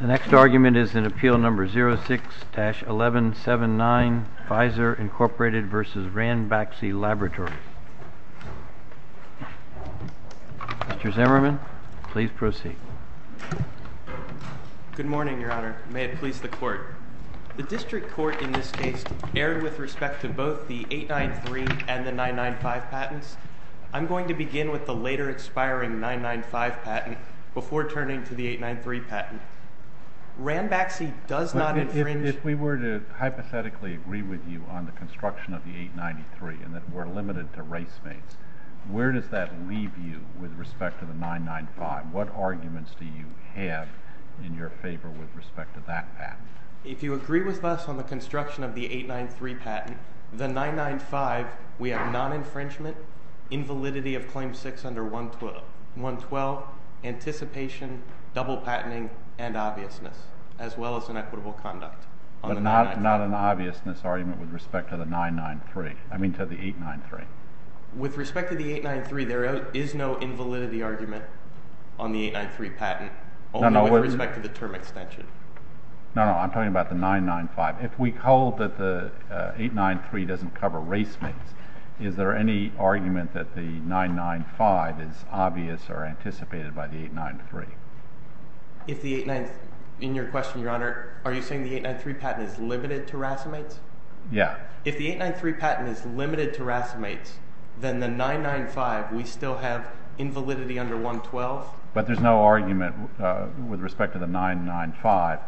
The next argument is in Appeal No. 06-1179, Pfizer, Inc. v. Ranbaxy Laboratories. Mr. Zimmerman, please proceed. Good morning, Your Honor. May it please the Court. The District Court in this case erred with respect to both the 893 and the 995 patents. I'm going to begin with the later expiring 995 patent before turning to the 893 patent. Ranbaxy does not infringe— If we were to hypothetically agree with you on the construction of the 893 and that we're limited to racemates, where does that leave you with respect to the 995? What arguments do you have in your favor with respect to that patent? If you agree with us on the construction of the 893 patent, the 995, we have non-infringement, invalidity of Claim No. 6 under 112, anticipation, double patenting, and obviousness, as well as inequitable conduct. But not an obviousness argument with respect to the 993—I mean to the 893. With respect to the 893, there is no invalidity argument on the 893 patent, only with respect to the term extension. No, no, I'm talking about the 995. If we hold that the 893 doesn't cover racemates, is there any argument that the 995 is obvious or anticipated by the 893? In your question, Your Honor, are you saying the 893 patent is limited to racemates? Yeah. If the 893 patent is limited to racemates, then the 995, we still have invalidity under 112? But there's no argument with respect to the 995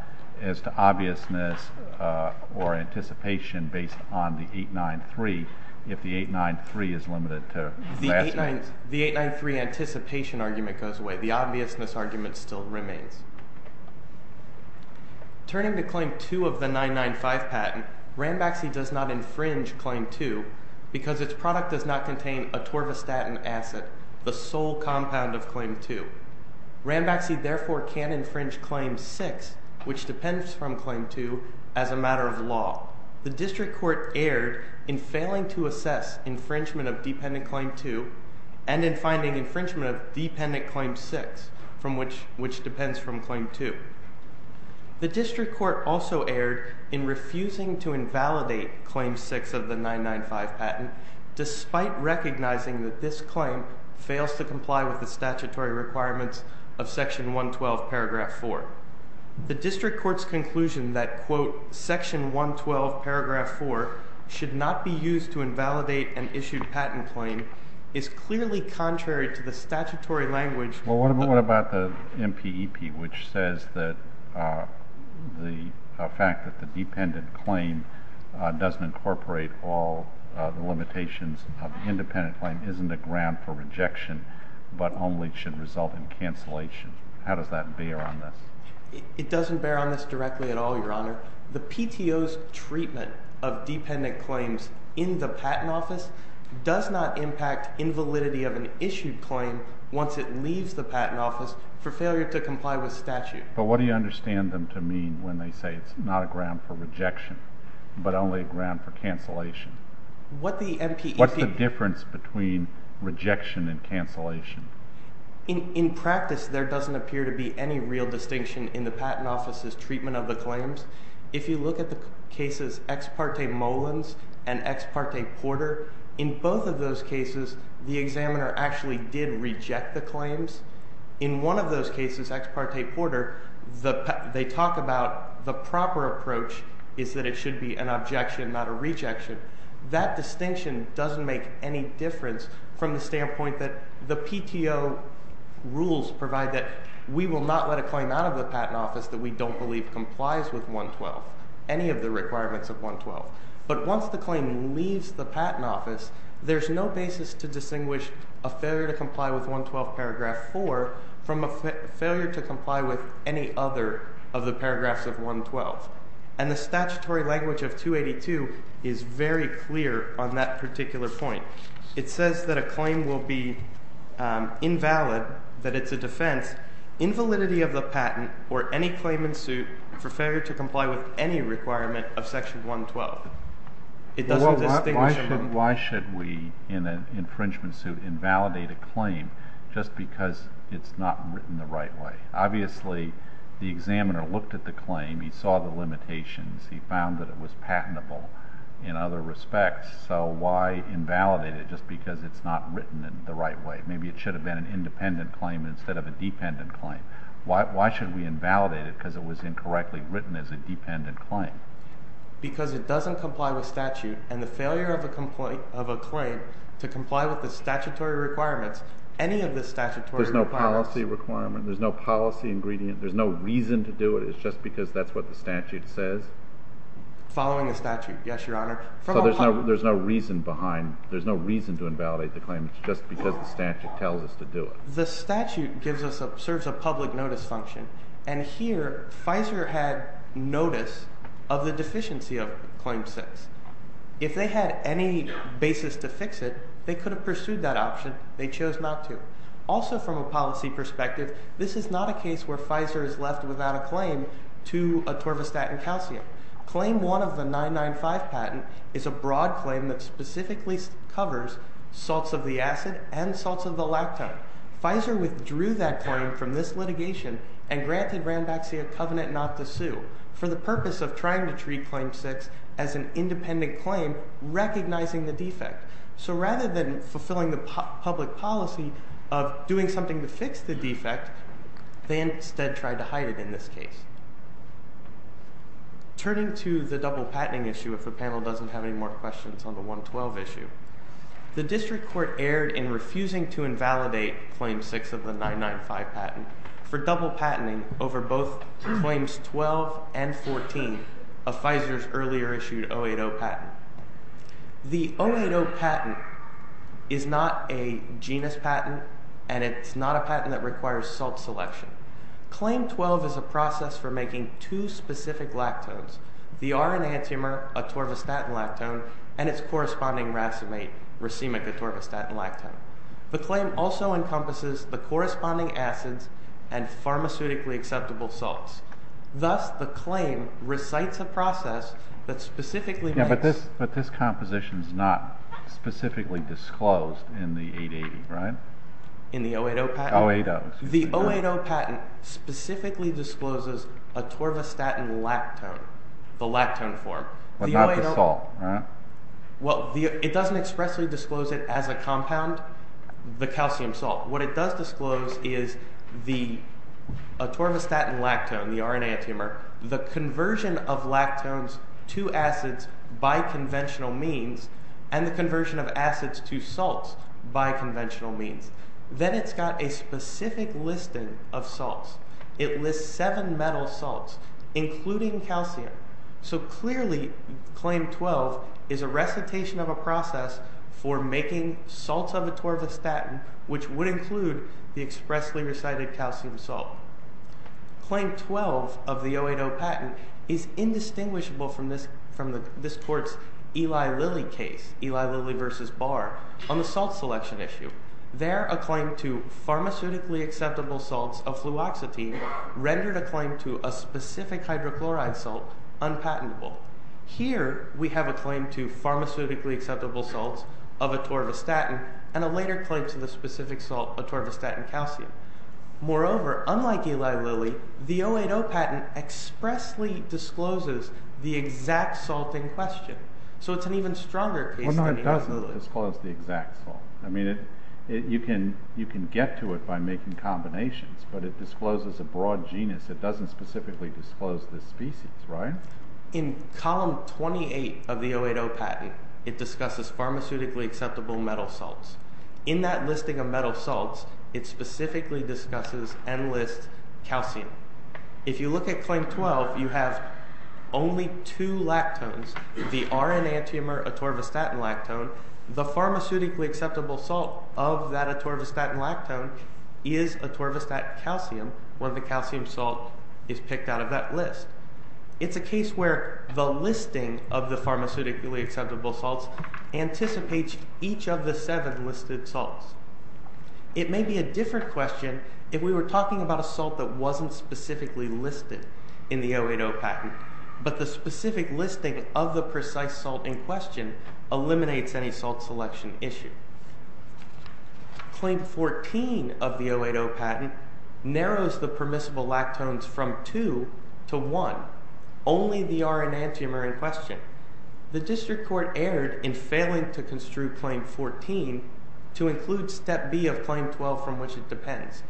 as to obviousness or anticipation based on the 893 if the 893 is limited to racemates. The 893 anticipation argument goes away. The obviousness argument still remains. Turning to Claim 2 of the 995 patent, Rambaxi does not infringe Claim 2 because its product does not contain atorvastatin acid, the sole compound of Claim 2. Rambaxi, therefore, can't infringe Claim 6, which depends from Claim 2, as a matter of law. The District Court erred in failing to assess infringement of Dependent Claim 2 and in finding infringement of Dependent Claim 6, which depends from Claim 2. The District Court also erred in refusing to invalidate Claim 6 of the 995 patent despite recognizing that this claim fails to comply with the statutory requirements of Section 112, Paragraph 4. The District Court's conclusion that, quote, Section 112, Paragraph 4 should not be used to invalidate an issued patent claim is clearly contrary to the statutory language— Well, what about the MPEP, which says that the fact that the dependent claim doesn't incorporate all the limitations of the independent claim isn't a ground for rejection but only should result in cancellation? How does that bear on this? It doesn't bear on this directly at all, Your Honor. The PTO's treatment of dependent claims in the Patent Office does not impact invalidity of an issued claim once it leaves the Patent Office for failure to comply with statute. But what do you understand them to mean when they say it's not a ground for rejection but only a ground for cancellation? What the MPEP— What's the difference between rejection and cancellation? In practice, there doesn't appear to be any real distinction in the Patent Office's treatment of the claims. If you look at the cases Ex parte Mullins and Ex parte Porter, in both of those cases, the examiner actually did reject the claims. In one of those cases, Ex parte Porter, they talk about the proper approach is that it should be an objection, not a rejection. That distinction doesn't make any difference from the standpoint that the PTO rules provide that we will not let a claim out of the Patent Office that we don't believe complies with 112, any of the requirements of 112. But once the claim leaves the Patent Office, there's no basis to distinguish a failure to comply with 112 paragraph 4 from a failure to comply with any other of the paragraphs of 112. And the statutory language of 282 is very clear on that particular point. It says that a claim will be invalid, that it's a defense, invalidity of the patent or any claim in suit for failure to comply with any requirement of section 112. It doesn't distinguish— Well, why should we, in an infringement suit, invalidate a claim just because it's not written the right way? Obviously, the examiner looked at the claim, he saw the limitations, he found that it was patentable in other respects. So why invalidate it just because it's not written the right way? Maybe it should have been an independent claim instead of a dependent claim. Why should we invalidate it because it was incorrectly written as a dependent claim? Because it doesn't comply with statute and the failure of a claim to comply with the statutory requirements, any of the statutory requirements— There's no policy ingredient. There's no reason to do it. It's just because that's what the statute says? Following the statute, yes, Your Honor. So there's no reason behind—there's no reason to invalidate the claim. It's just because the statute tells us to do it. The statute gives us—serves a public notice function. And here, FISER had notice of the deficiency of Claim 6. If they had any basis to fix it, they could have pursued that option. They chose not to. Also, from a policy perspective, this is not a case where FISER is left without a claim to a torvastatin calcium. Claim 1 of the 995 patent is a broad claim that specifically covers salts of the acid and salts of the lactone. FISER withdrew that claim from this litigation and granted Ranbaxy a covenant not to sue for the purpose of trying to treat Claim 6 as an independent claim recognizing the defect. So rather than fulfilling the public policy of doing something to fix the defect, they instead tried to hide it in this case. Turning to the double patenting issue, if the panel doesn't have any more questions on the 112 issue, the district court erred in refusing to invalidate Claim 6 of the 995 patent for double patenting over both Claims 12 and 14 of FISER's earlier issued 080 patent. The 080 patent is not a genus patent, and it's not a patent that requires salt selection. Claim 12 is a process for making two specific lactones, the R enantiomer, a torvastatin lactone, and its corresponding racemic atorvastatin lactone. The claim also encompasses the corresponding acids and pharmaceutically acceptable salts. Thus, the claim recites a process that specifically makes – But this composition is not specifically disclosed in the 880, right? In the 080 patent? 080, excuse me. The 080 patent specifically discloses atorvastatin lactone, the lactone form. But not the salt, right? Well, it doesn't expressly disclose it as a compound, the calcium salt. What it does disclose is the atorvastatin lactone, the R enantiomer, the conversion of lactones to acids by conventional means and the conversion of acids to salts by conventional means. Then it's got a specific listing of salts. It lists seven metal salts, including calcium. So clearly, claim 12 is a recitation of a process for making salts of atorvastatin, which would include the expressly recited calcium salt. Claim 12 of the 080 patent is indistinguishable from this court's Eli Lilly case, Eli Lilly v. Barr, on the salt selection issue. There, a claim to pharmaceutically acceptable salts of fluoxetine rendered a claim to a specific hydrochloride salt unpatentable. Here, we have a claim to pharmaceutically acceptable salts of atorvastatin and a later claim to the specific salt atorvastatin calcium. Moreover, unlike Eli Lilly, the 080 patent expressly discloses the exact salt in question. So it's an even stronger case than Eli Lilly. It doesn't disclose the exact salt. I mean, you can get to it by making combinations, but it discloses a broad genus. It doesn't specifically disclose the species, right? In column 28 of the 080 patent, it discusses pharmaceutically acceptable metal salts. In that listing of metal salts, it specifically discusses and lists calcium. If you look at Claim 12, you have only two lactones, the R-enantiomer atorvastatin lactone. The pharmaceutically acceptable salt of that atorvastatin lactone is atorvastatin calcium. One of the calcium salts is picked out of that list. It's a case where the listing of the pharmaceutically acceptable salts anticipates each of the seven listed salts. It may be a different question if we were talking about a salt that wasn't specifically listed in the 080 patent, but the specific listing of the precise salt in question eliminates any salt selection issue. Claim 14 of the 080 patent narrows the permissible lactones from two to one, only the R-enantiomer in question. The district court erred in failing to construe Claim 14 to include Step B of Claim 12 from which it depends.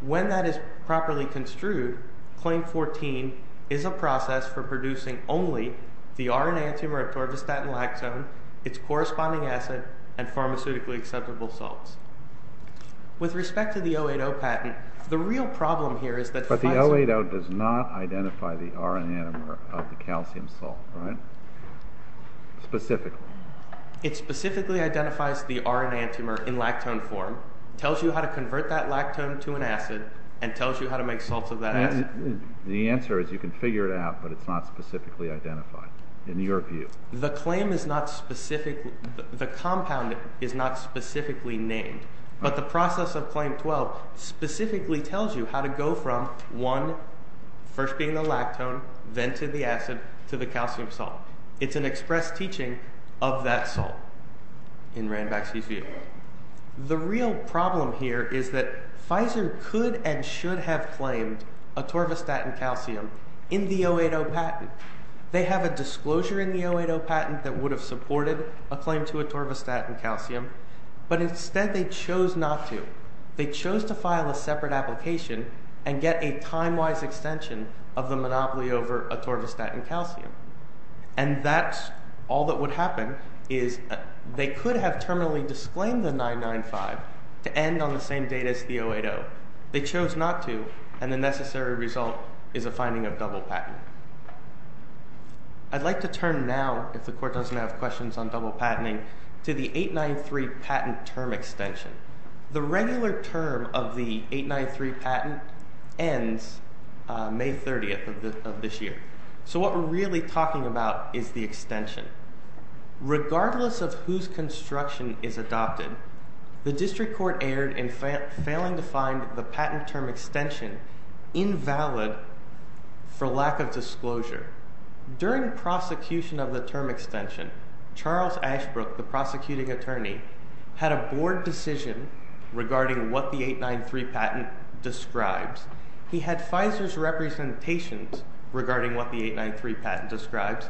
When that is properly construed, Claim 14 is a process for producing only the R-enantiomer atorvastatin lactone, its corresponding acid, and pharmaceutically acceptable salts. With respect to the 080 patent, the real problem here is that— Specifically. It specifically identifies the R-enantiomer in lactone form, tells you how to convert that lactone to an acid, and tells you how to make salts of that acid. The answer is you can figure it out, but it's not specifically identified in your view. The claim is not specifically—the compound is not specifically named, but the process of Claim 12 specifically tells you how to go from one, first being the lactone, then to the acid, to the calcium salt. It's an express teaching of that salt in Ranback's view. The real problem here is that Pfizer could and should have claimed atorvastatin calcium in the 080 patent. They have a disclosure in the 080 patent that would have supported a claim to atorvastatin calcium, but instead they chose not to. They chose to file a separate application and get a time-wise extension of the monopoly over atorvastatin calcium. And that's all that would happen is they could have terminally disclaimed the 995 to end on the same date as the 080. They chose not to, and the necessary result is a finding of double patent. I'd like to turn now, if the Court doesn't have questions on double patenting, to the 893 patent term extension. The regular term of the 893 patent ends May 30th of this year. So what we're really talking about is the extension. Regardless of whose construction is adopted, the District Court erred in failing to find the patent term extension invalid for lack of disclosure. During prosecution of the term extension, Charles Ashbrook, the prosecuting attorney, had a board decision regarding what the 893 patent describes. He had Pfizer's representations regarding what the 893 patent describes,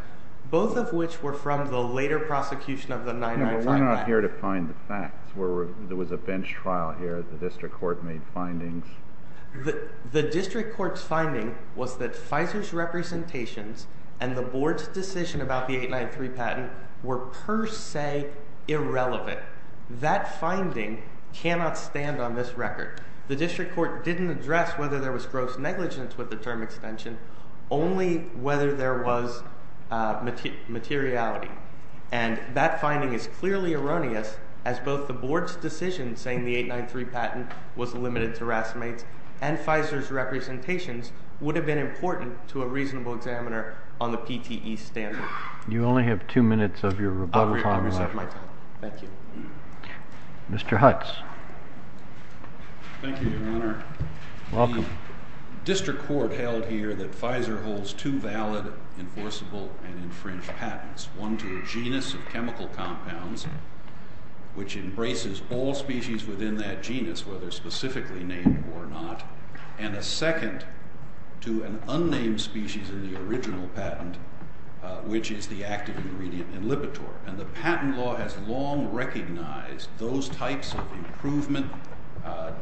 both of which were from the later prosecution of the 995 patent. We're not here to find the facts. There was a bench trial here. The District Court made findings. The District Court's finding was that Pfizer's representations and the board's decision about the 893 patent were per se irrelevant. That finding cannot stand on this record. The District Court didn't address whether there was gross negligence with the term extension, only whether there was materiality. That finding is clearly erroneous, as both the board's decision saying the 893 patent was limited to racemates and Pfizer's representations would have been important to a reasonable examiner on the PTE standard. You only have two minutes of your rebuttal time. Thank you. Mr. Hutz. Thank you, Your Honor. Welcome. The District Court held here that Pfizer holds two valid, enforceable, and infringed patents, one to a genus of chemical compounds, which embraces all species within that genus, whether specifically named or not, and a second to an unnamed species in the original patent, which is the active ingredient in Lipitor. And the patent law has long recognized those types of improvement,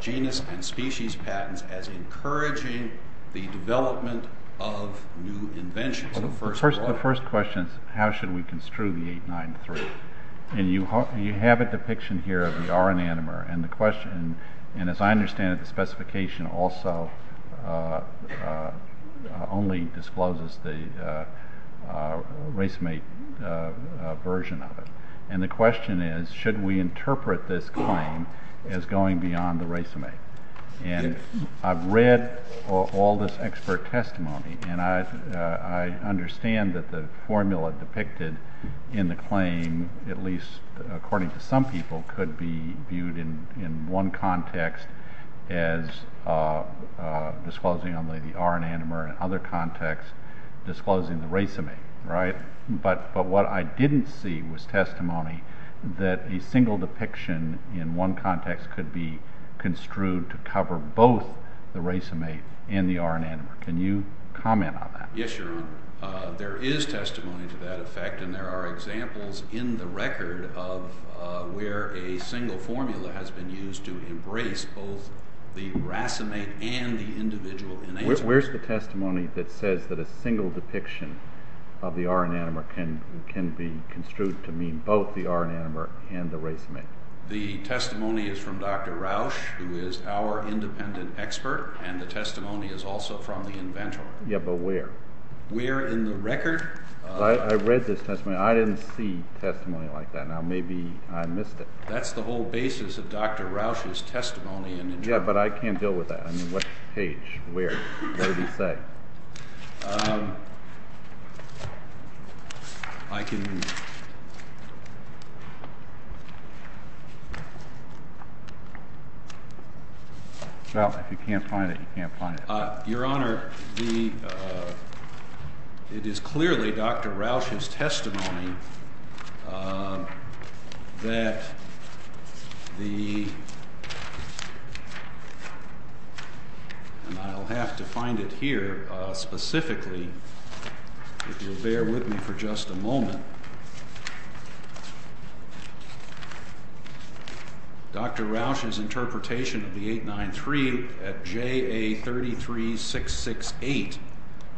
genus and species patents, as encouraging the development of new inventions. The first question is how should we construe the 893. And you have a depiction here of the R enanomer. And as I understand it, the specification also only discloses the racemate version of it. And the question is, should we interpret this claim as going beyond the racemate? And I've read all this expert testimony, and I understand that the formula depicted in the claim, at least according to some people, could be viewed in one context as disclosing only the R enanomer, and in other contexts disclosing the racemate, right? But what I didn't see was testimony that a single depiction in one context could be construed to cover both the racemate and the R enanomer. Can you comment on that? Yes, Your Honor. There is testimony to that effect, and there are examples in the record of where a single formula has been used to embrace both the racemate and the individual enanomer. Where's the testimony that says that a single depiction of the R enanomer can be construed to mean both the R enanomer and the racemate? The testimony is from Dr. Rausch, who is our independent expert, and the testimony is also from the inventor. Yeah, but where? Where in the record? I read this testimony. I didn't see testimony like that. Now, maybe I missed it. That's the whole basis of Dr. Rausch's testimony. Yeah, but I can't deal with that. I mean, what page? Where? What did he say? I can… Well, if you can't find it, you can't find it. Your Honor, it is clearly Dr. Rausch's testimony that the… And I'll have to find it here specifically, if you'll bear with me for just a moment. Dr. Rausch's interpretation of the 893 at J.A. 33668.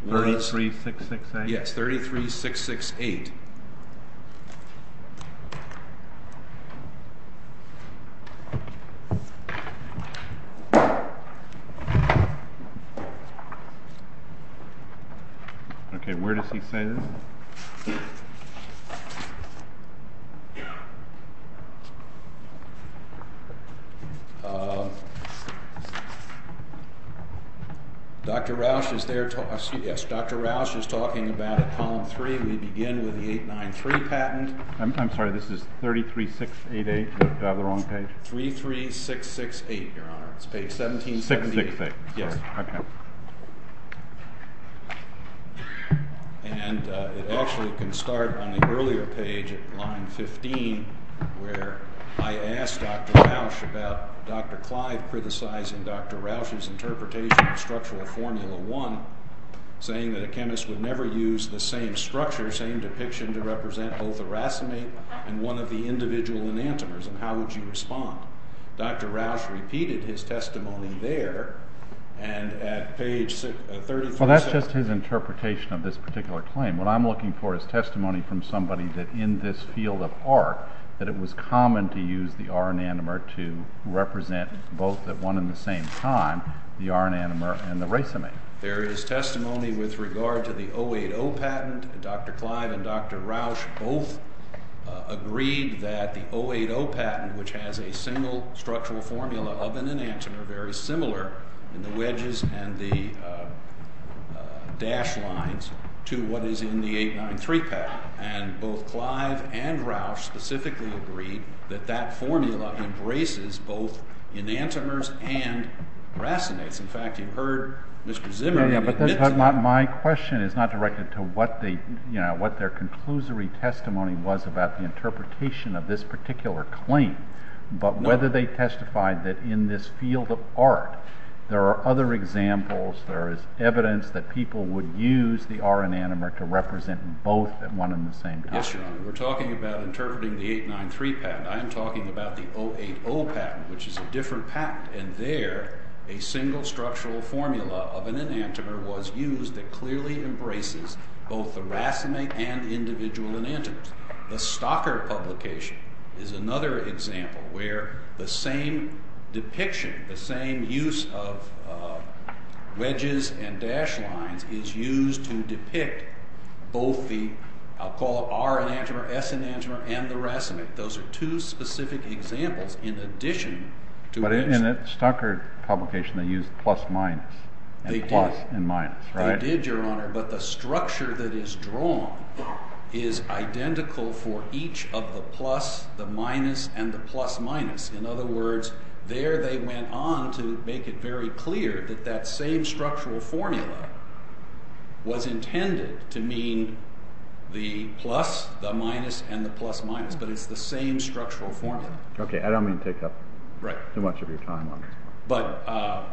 33668? Yes, 33668. Okay, where does he say this? Dr. Rausch is there. Yes, Dr. Rausch is talking about it, Column 3. We begin with the 893 patent. I'm sorry. This is 33688. Did I have it on the wrong page? 33668, Your Honor. It's page 1778. 668. Yes. Okay. And it actually can start on the earlier page at line 15, where I asked Dr. Rausch about Dr. Clive criticizing Dr. Rausch's interpretation of structural formula 1, saying that a chemist would never use the same structure, same depiction to represent both a racemate and one of the individual enantiomers, and how would you respond? Dr. Rausch repeated his testimony there, and at page 33— Well, that's just his interpretation of this particular claim. What I'm looking for is testimony from somebody that in this field of art, that it was common to use the R enanomer to represent both at one and the same time the R enanomer and the racemate. There is testimony with regard to the 080 patent. Dr. Clive and Dr. Rausch both agreed that the 080 patent, which has a single structural formula of an enantiomer very similar in the wedges and the dashed lines to what is in the 893 patent. And both Clive and Rausch specifically agreed that that formula embraces both enantiomers and racemates. In fact, you heard Mr. Zimmerman— My question is not directed to what their conclusory testimony was about the interpretation of this particular claim, but whether they testified that in this field of art there are other examples, there is evidence that people would use the R enanomer to represent both at one and the same time. Yes, Your Honor. We're talking about interpreting the 893 patent. I am talking about the 080 patent, which is a different patent, and there a single structural formula of an enantiomer was used that clearly embraces both the racemate and individual enantiomers. The Stocker publication is another example where the same depiction, the same use of wedges and dashed lines is used to depict both the R enantiomer, S enantiomer, and the racemate. Those are two specific examples in addition to— In the Stocker publication they used plus-minus and plus and minus, right? They did, Your Honor, but the structure that is drawn is identical for each of the plus, the minus, and the plus-minus. In other words, there they went on to make it very clear that that same structural formula was intended to mean the plus, the minus, and the plus-minus, but it's the same structural formula. Okay, I don't mean to take up too much of your time on this.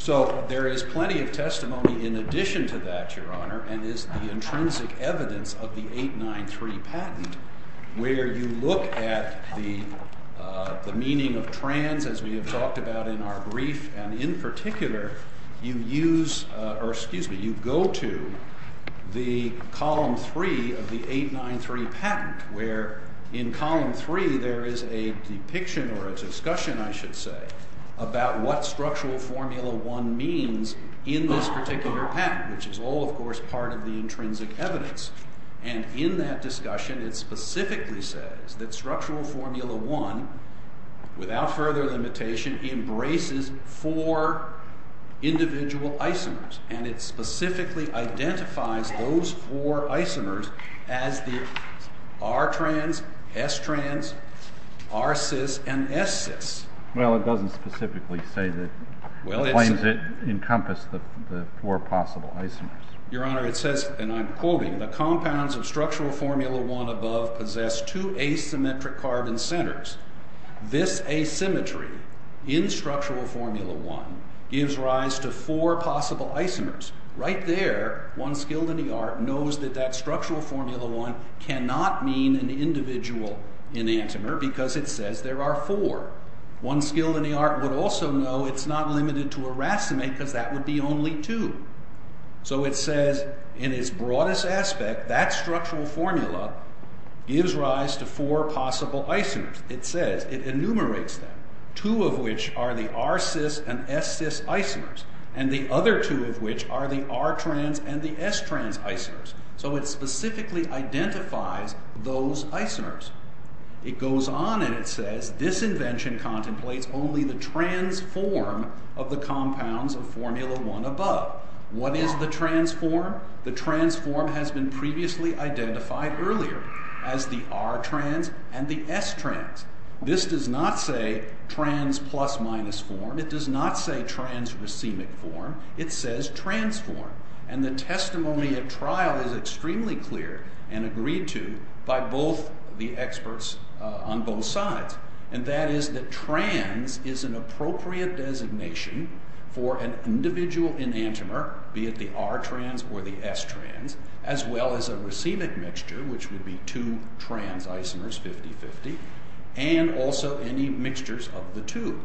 So there is plenty of testimony in addition to that, Your Honor, and is the intrinsic evidence of the 893 patent where you look at the meaning of trans, as we have talked about in our brief, and in particular, you go to the column three of the 893 patent, where in column three there is a depiction or a discussion, I should say, about what structural formula one means in this particular patent, which is all, of course, part of the intrinsic evidence. And in that discussion it specifically says that structural formula one, without further limitation, embraces four individual isomers, and it specifically identifies those four isomers, R-trans, S-trans, R-cis, and S-cis. Well, it doesn't specifically say that it encompasses the four possible isomers. Your Honor, it says, and I'm quoting, the compounds of structural formula one above possess two asymmetric carbon centers. This asymmetry in structural formula one gives rise to four possible isomers. Right there, one skilled in the art knows that that structural formula one cannot mean an individual enantiomer, because it says there are four. One skilled in the art would also know it's not limited to a racemate, because that would be only two. So it says, in its broadest aspect, that structural formula gives rise to four possible isomers. It says, it enumerates them, two of which are the R-cis and S-cis isomers, and the other two of which are the R-trans and the S-trans isomers. So it specifically identifies those isomers. It goes on and it says, this invention contemplates only the trans form of the compounds of formula one above. What is the trans form? The trans form has been previously identified earlier as the R-trans and the S-trans. This does not say trans plus minus form. It does not say trans racemic form. It says trans form. And the testimony at trial is extremely clear and agreed to by both the experts on both sides. And that is that trans is an appropriate designation for an individual enantiomer, be it the R-trans or the S-trans, as well as a racemic mixture, which would be two trans isomers, 50-50, and also any mixtures of the two.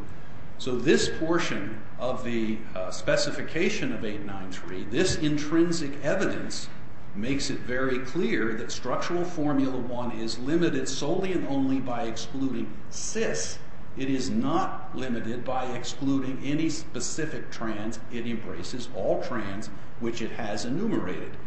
So this portion of the specification of 893, this intrinsic evidence, makes it very clear that structural formula one is limited solely and only by excluding cis. It is not limited by excluding any specific trans. It embraces all trans, which it has enumerated.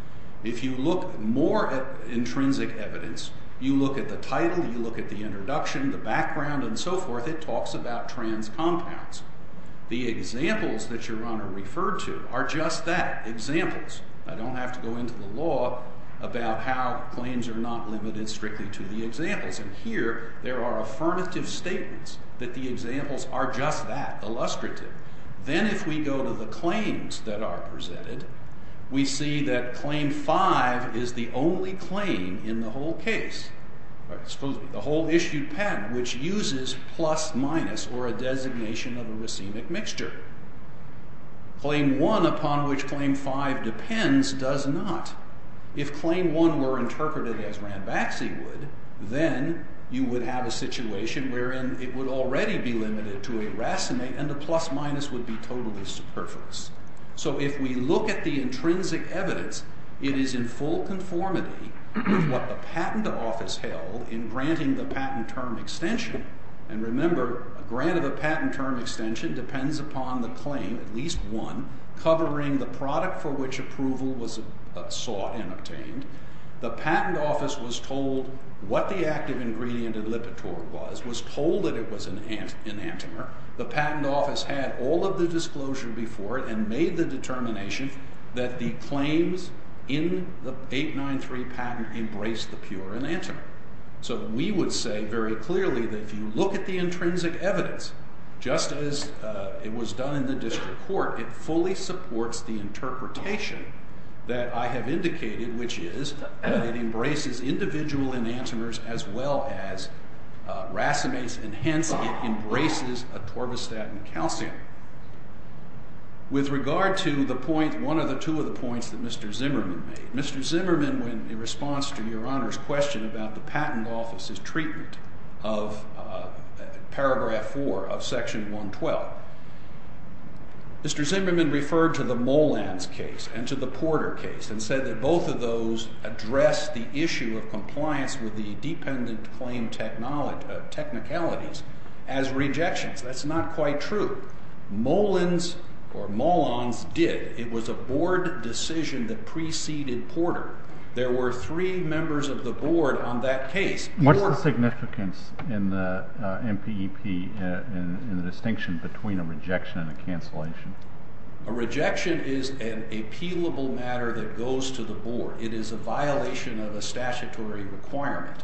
If you look more at intrinsic evidence, you look at the title, you look at the introduction, the background, and so forth, it talks about trans compounds. The examples that Your Honor referred to are just that, examples. I don't have to go into the law about how claims are not limited strictly to the examples. And here, there are affirmative statements that the examples are just that, illustrative. Then if we go to the claims that are presented, we see that Claim 5 is the only claim in the whole issued patent which uses plus-minus or a designation of a racemic mixture. Claim 1, upon which Claim 5 depends, does not. If Claim 1 were interpreted as Ranbaxy would, then you would have a situation wherein it would already be limited to a racinate and the plus-minus would be totally superfluous. So if we look at the intrinsic evidence, it is in full conformity with what the patent office held in granting the patent term extension. And remember, a grant of a patent term extension depends upon the claim, at least one, covering the product for which approval was sought and obtained. The patent office was told what the active ingredient in Lipitor was, was told that it was an enantiomer. The patent office had all of the disclosure before it and made the determination that the claims in the 893 patent embraced the pure enantiomer. So we would say very clearly that if you look at the intrinsic evidence, just as it was done in the district court, it fully supports the interpretation that I have indicated, which is that it embraces individual enantiomers as well as racemates, and hence it embraces a torvastatin calcium. With regard to the point, one of the two of the points that Mr. Zimmerman made. Mr. Zimmerman, in response to Your Honor's question about the patent office's treatment of paragraph 4 of section 112, Mr. Zimmerman referred to the Molands case and to the Porter case and said that both of those address the issue of compliance with the dependent claim technicalities as rejections. That's not quite true. Molands or Molands did. It was a board decision that preceded Porter. There were three members of the board on that case. What's the significance in the MPEP in the distinction between a rejection and a cancellation? A rejection is an appealable matter that goes to the board. It is a violation of a statutory requirement.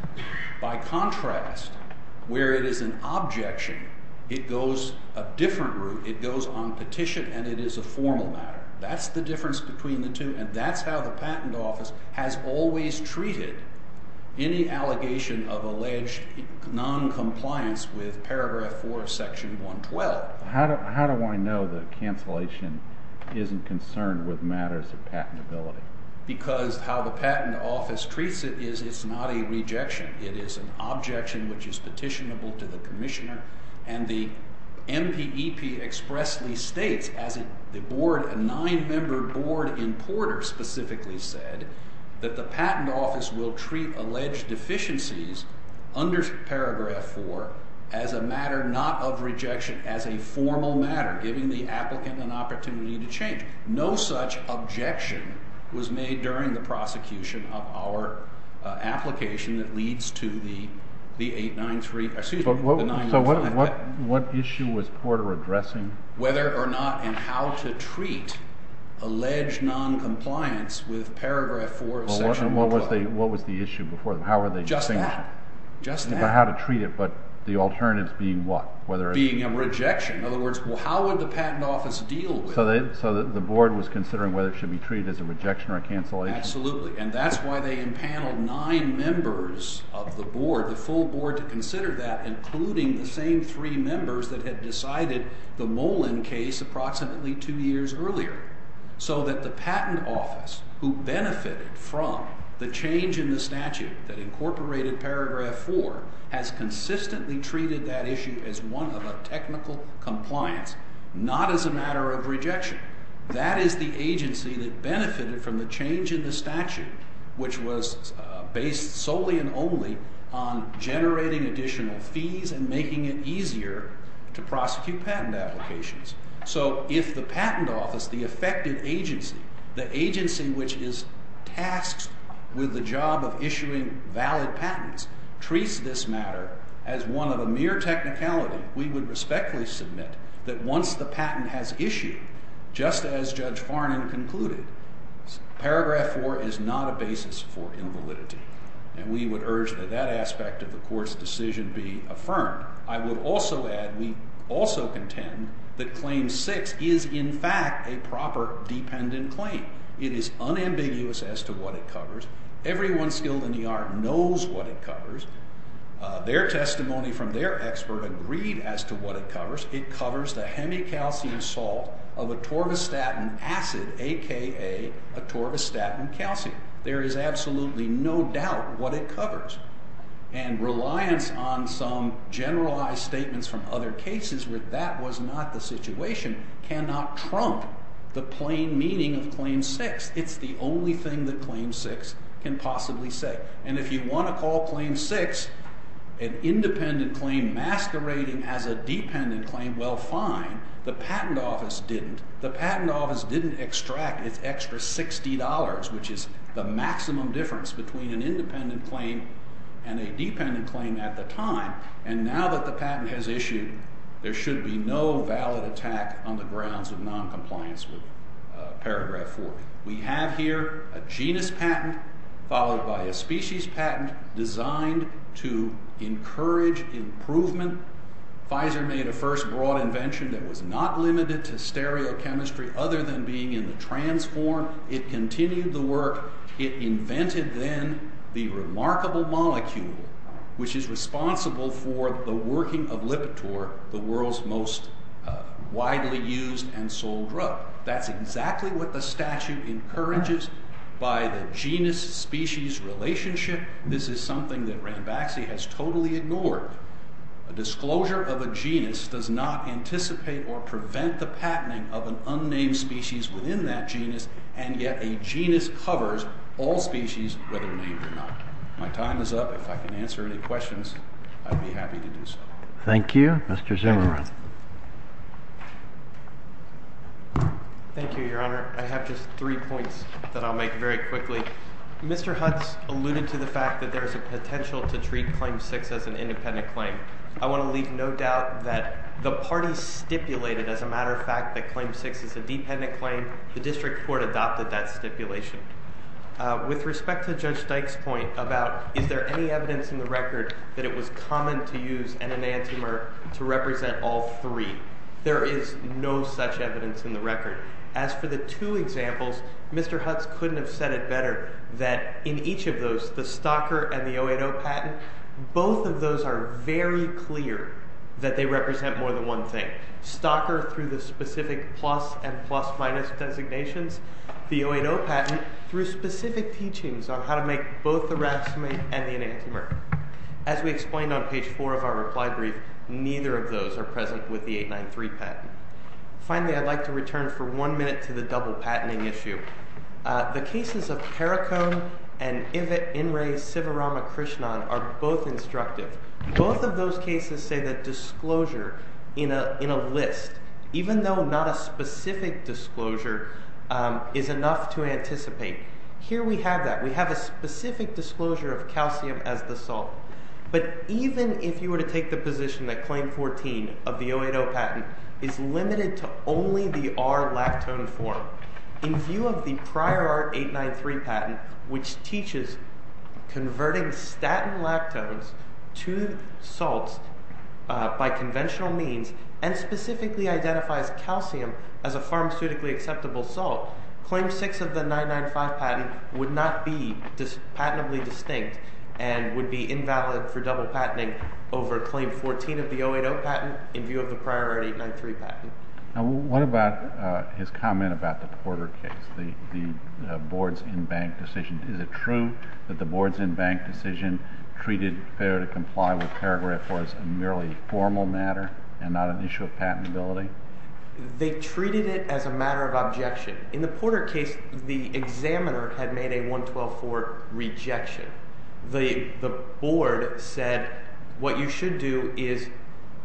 By contrast, where it is an objection, it goes a different route. It goes on petition, and it is a formal matter. That's the difference between the two, and that's how the patent office has always treated any allegation of alleged noncompliance with paragraph 4 of section 112. How do I know that cancellation isn't concerned with matters of patentability? Because how the patent office treats it is it's not a rejection. It is an objection which is petitionable to the commissioner, and the MPEP expressly states, as a nine-member board in Porter specifically said, that the patent office will treat alleged deficiencies under paragraph 4 as a matter not of rejection, as a formal matter, giving the applicant an opportunity to change. No such objection was made during the prosecution of our application that leads to the 893, excuse me, the 995 patent. So what issue was Porter addressing? Whether or not and how to treat alleged noncompliance with paragraph 4 of section 112. What was the issue before them? How were they distinguishing? Just that. About how to treat it, but the alternatives being what? Being a rejection. In other words, how would the patent office deal with it? So the board was considering whether it should be treated as a rejection or a cancellation? Absolutely, and that's why they empaneled nine members of the board, the full board, to consider that, including the same three members that had decided the Molen case approximately two years earlier. So that the patent office, who benefited from the change in the statute that incorporated paragraph 4, has consistently treated that issue as one of a technical compliance, not as a matter of rejection. That is the agency that benefited from the change in the statute, which was based solely and only on generating additional fees and making it easier to prosecute patent applications. So if the patent office, the effective agency, the agency which is tasked with the job of issuing valid patents, treats this matter as one of a mere technicality, we would respectfully submit that once the patent has issued, just as Judge Farnan concluded, paragraph 4 is not a basis for invalidity. And we would urge that that aspect of the Court's decision be affirmed. I would also add, we also contend, that Claim 6 is in fact a proper dependent claim. It is unambiguous as to what it covers. Everyone skilled in the art knows what it covers. Their testimony from their expert agreed as to what it covers. It covers the hemicalcium salt of atorvastatin acid, a.k.a. atorvastatin calcium. There is absolutely no doubt what it covers. And reliance on some generalized statements from other cases where that was not the situation cannot trump the plain meaning of Claim 6. It's the only thing that Claim 6 can possibly say. And if you want to call Claim 6 an independent claim masquerading as a dependent claim, well, fine. The Patent Office didn't. The Patent Office didn't extract its extra $60, which is the maximum difference between an independent claim and a dependent claim at the time. And now that the patent has issued, there should be no valid attack on the grounds of noncompliance with paragraph 4. We have here a genus patent followed by a species patent designed to encourage improvement. Pfizer made a first broad invention that was not limited to stereochemistry other than being in the trans form. It continued the work. It invented then the remarkable molecule, which is responsible for the working of Lipitor, the world's most widely used and sold drug. That's exactly what the statute encourages by the genus-species relationship. This is something that Ranbaxy has totally ignored. A disclosure of a genus does not anticipate or prevent the patenting of an unnamed species within that genus, and yet a genus covers all species, whether named or not. My time is up. If I can answer any questions, I'd be happy to do so. Thank you, Mr. Zimmerman. Thank you, Your Honor. I have just three points that I'll make very quickly. Mr. Hutz alluded to the fact that there is a potential to treat Claim 6 as an independent claim. I want to leave no doubt that the parties stipulated, as a matter of fact, that Claim 6 is a dependent claim. The district court adopted that stipulation. With respect to Judge Dyke's point about is there any evidence in the record that it was common to use an enantiomer to represent all three, there is no such evidence in the record. As for the two examples, Mr. Hutz couldn't have said it better that in each of those, the Stalker and the 080 patent, both of those are very clear that they represent more than one thing. Stalker through the specific plus and plus-minus designations. The 080 patent through specific teachings on how to make both the racemate and the enantiomer. As we explained on page 4 of our reply brief, neither of those are present with the 893 patent. Finally, I'd like to return for one minute to the double patenting issue. The cases of Perricone and Inres Sivaramakrishnan are both instructive. Both of those cases say that disclosure in a list, even though not a specific disclosure, is enough to anticipate. Here we have that. We have a specific disclosure of calcium as the salt. But even if you were to take the position that Claim 14 of the 080 patent is limited to only the R-lactone form, in view of the prior R-893 patent, which teaches converting statin lactones to salts by conventional means, and specifically identifies calcium as a pharmaceutically acceptable salt, Claim 6 of the 995 patent would not be patentably distinct and would be invalid for double patenting over Claim 14 of the 080 patent in view of the prior R-893 patent. Now, what about his comment about the Porter case, the board's in-bank decision? Is it true that the board's in-bank decision treated failure to comply with paragraph 4 as a merely formal matter and not an issue of patentability? They treated it as a matter of objection. In the Porter case, the examiner had made a 112-4 rejection. The board said what you should do is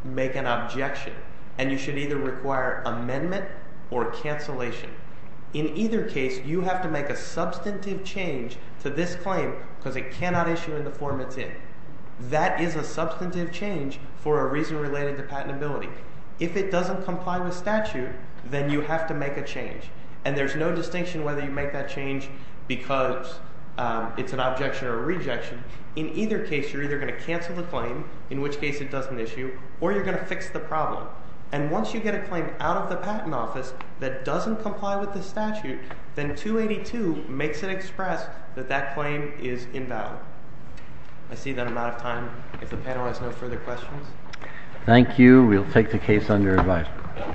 make an objection, and you should either require amendment or cancellation. In either case, you have to make a substantive change to this claim because it cannot issue in the form it's in. That is a substantive change for a reason related to patentability. If it doesn't comply with statute, then you have to make a change. And there's no distinction whether you make that change because it's an objection or a rejection. In either case, you're either going to cancel the claim, in which case it doesn't issue, or you're going to fix the problem. And once you get a claim out of the patent office that doesn't comply with the statute, then 282 makes it express that that claim is invalid. I see that I'm out of time. If the panel has no further questions. Thank you. We'll take the case under review.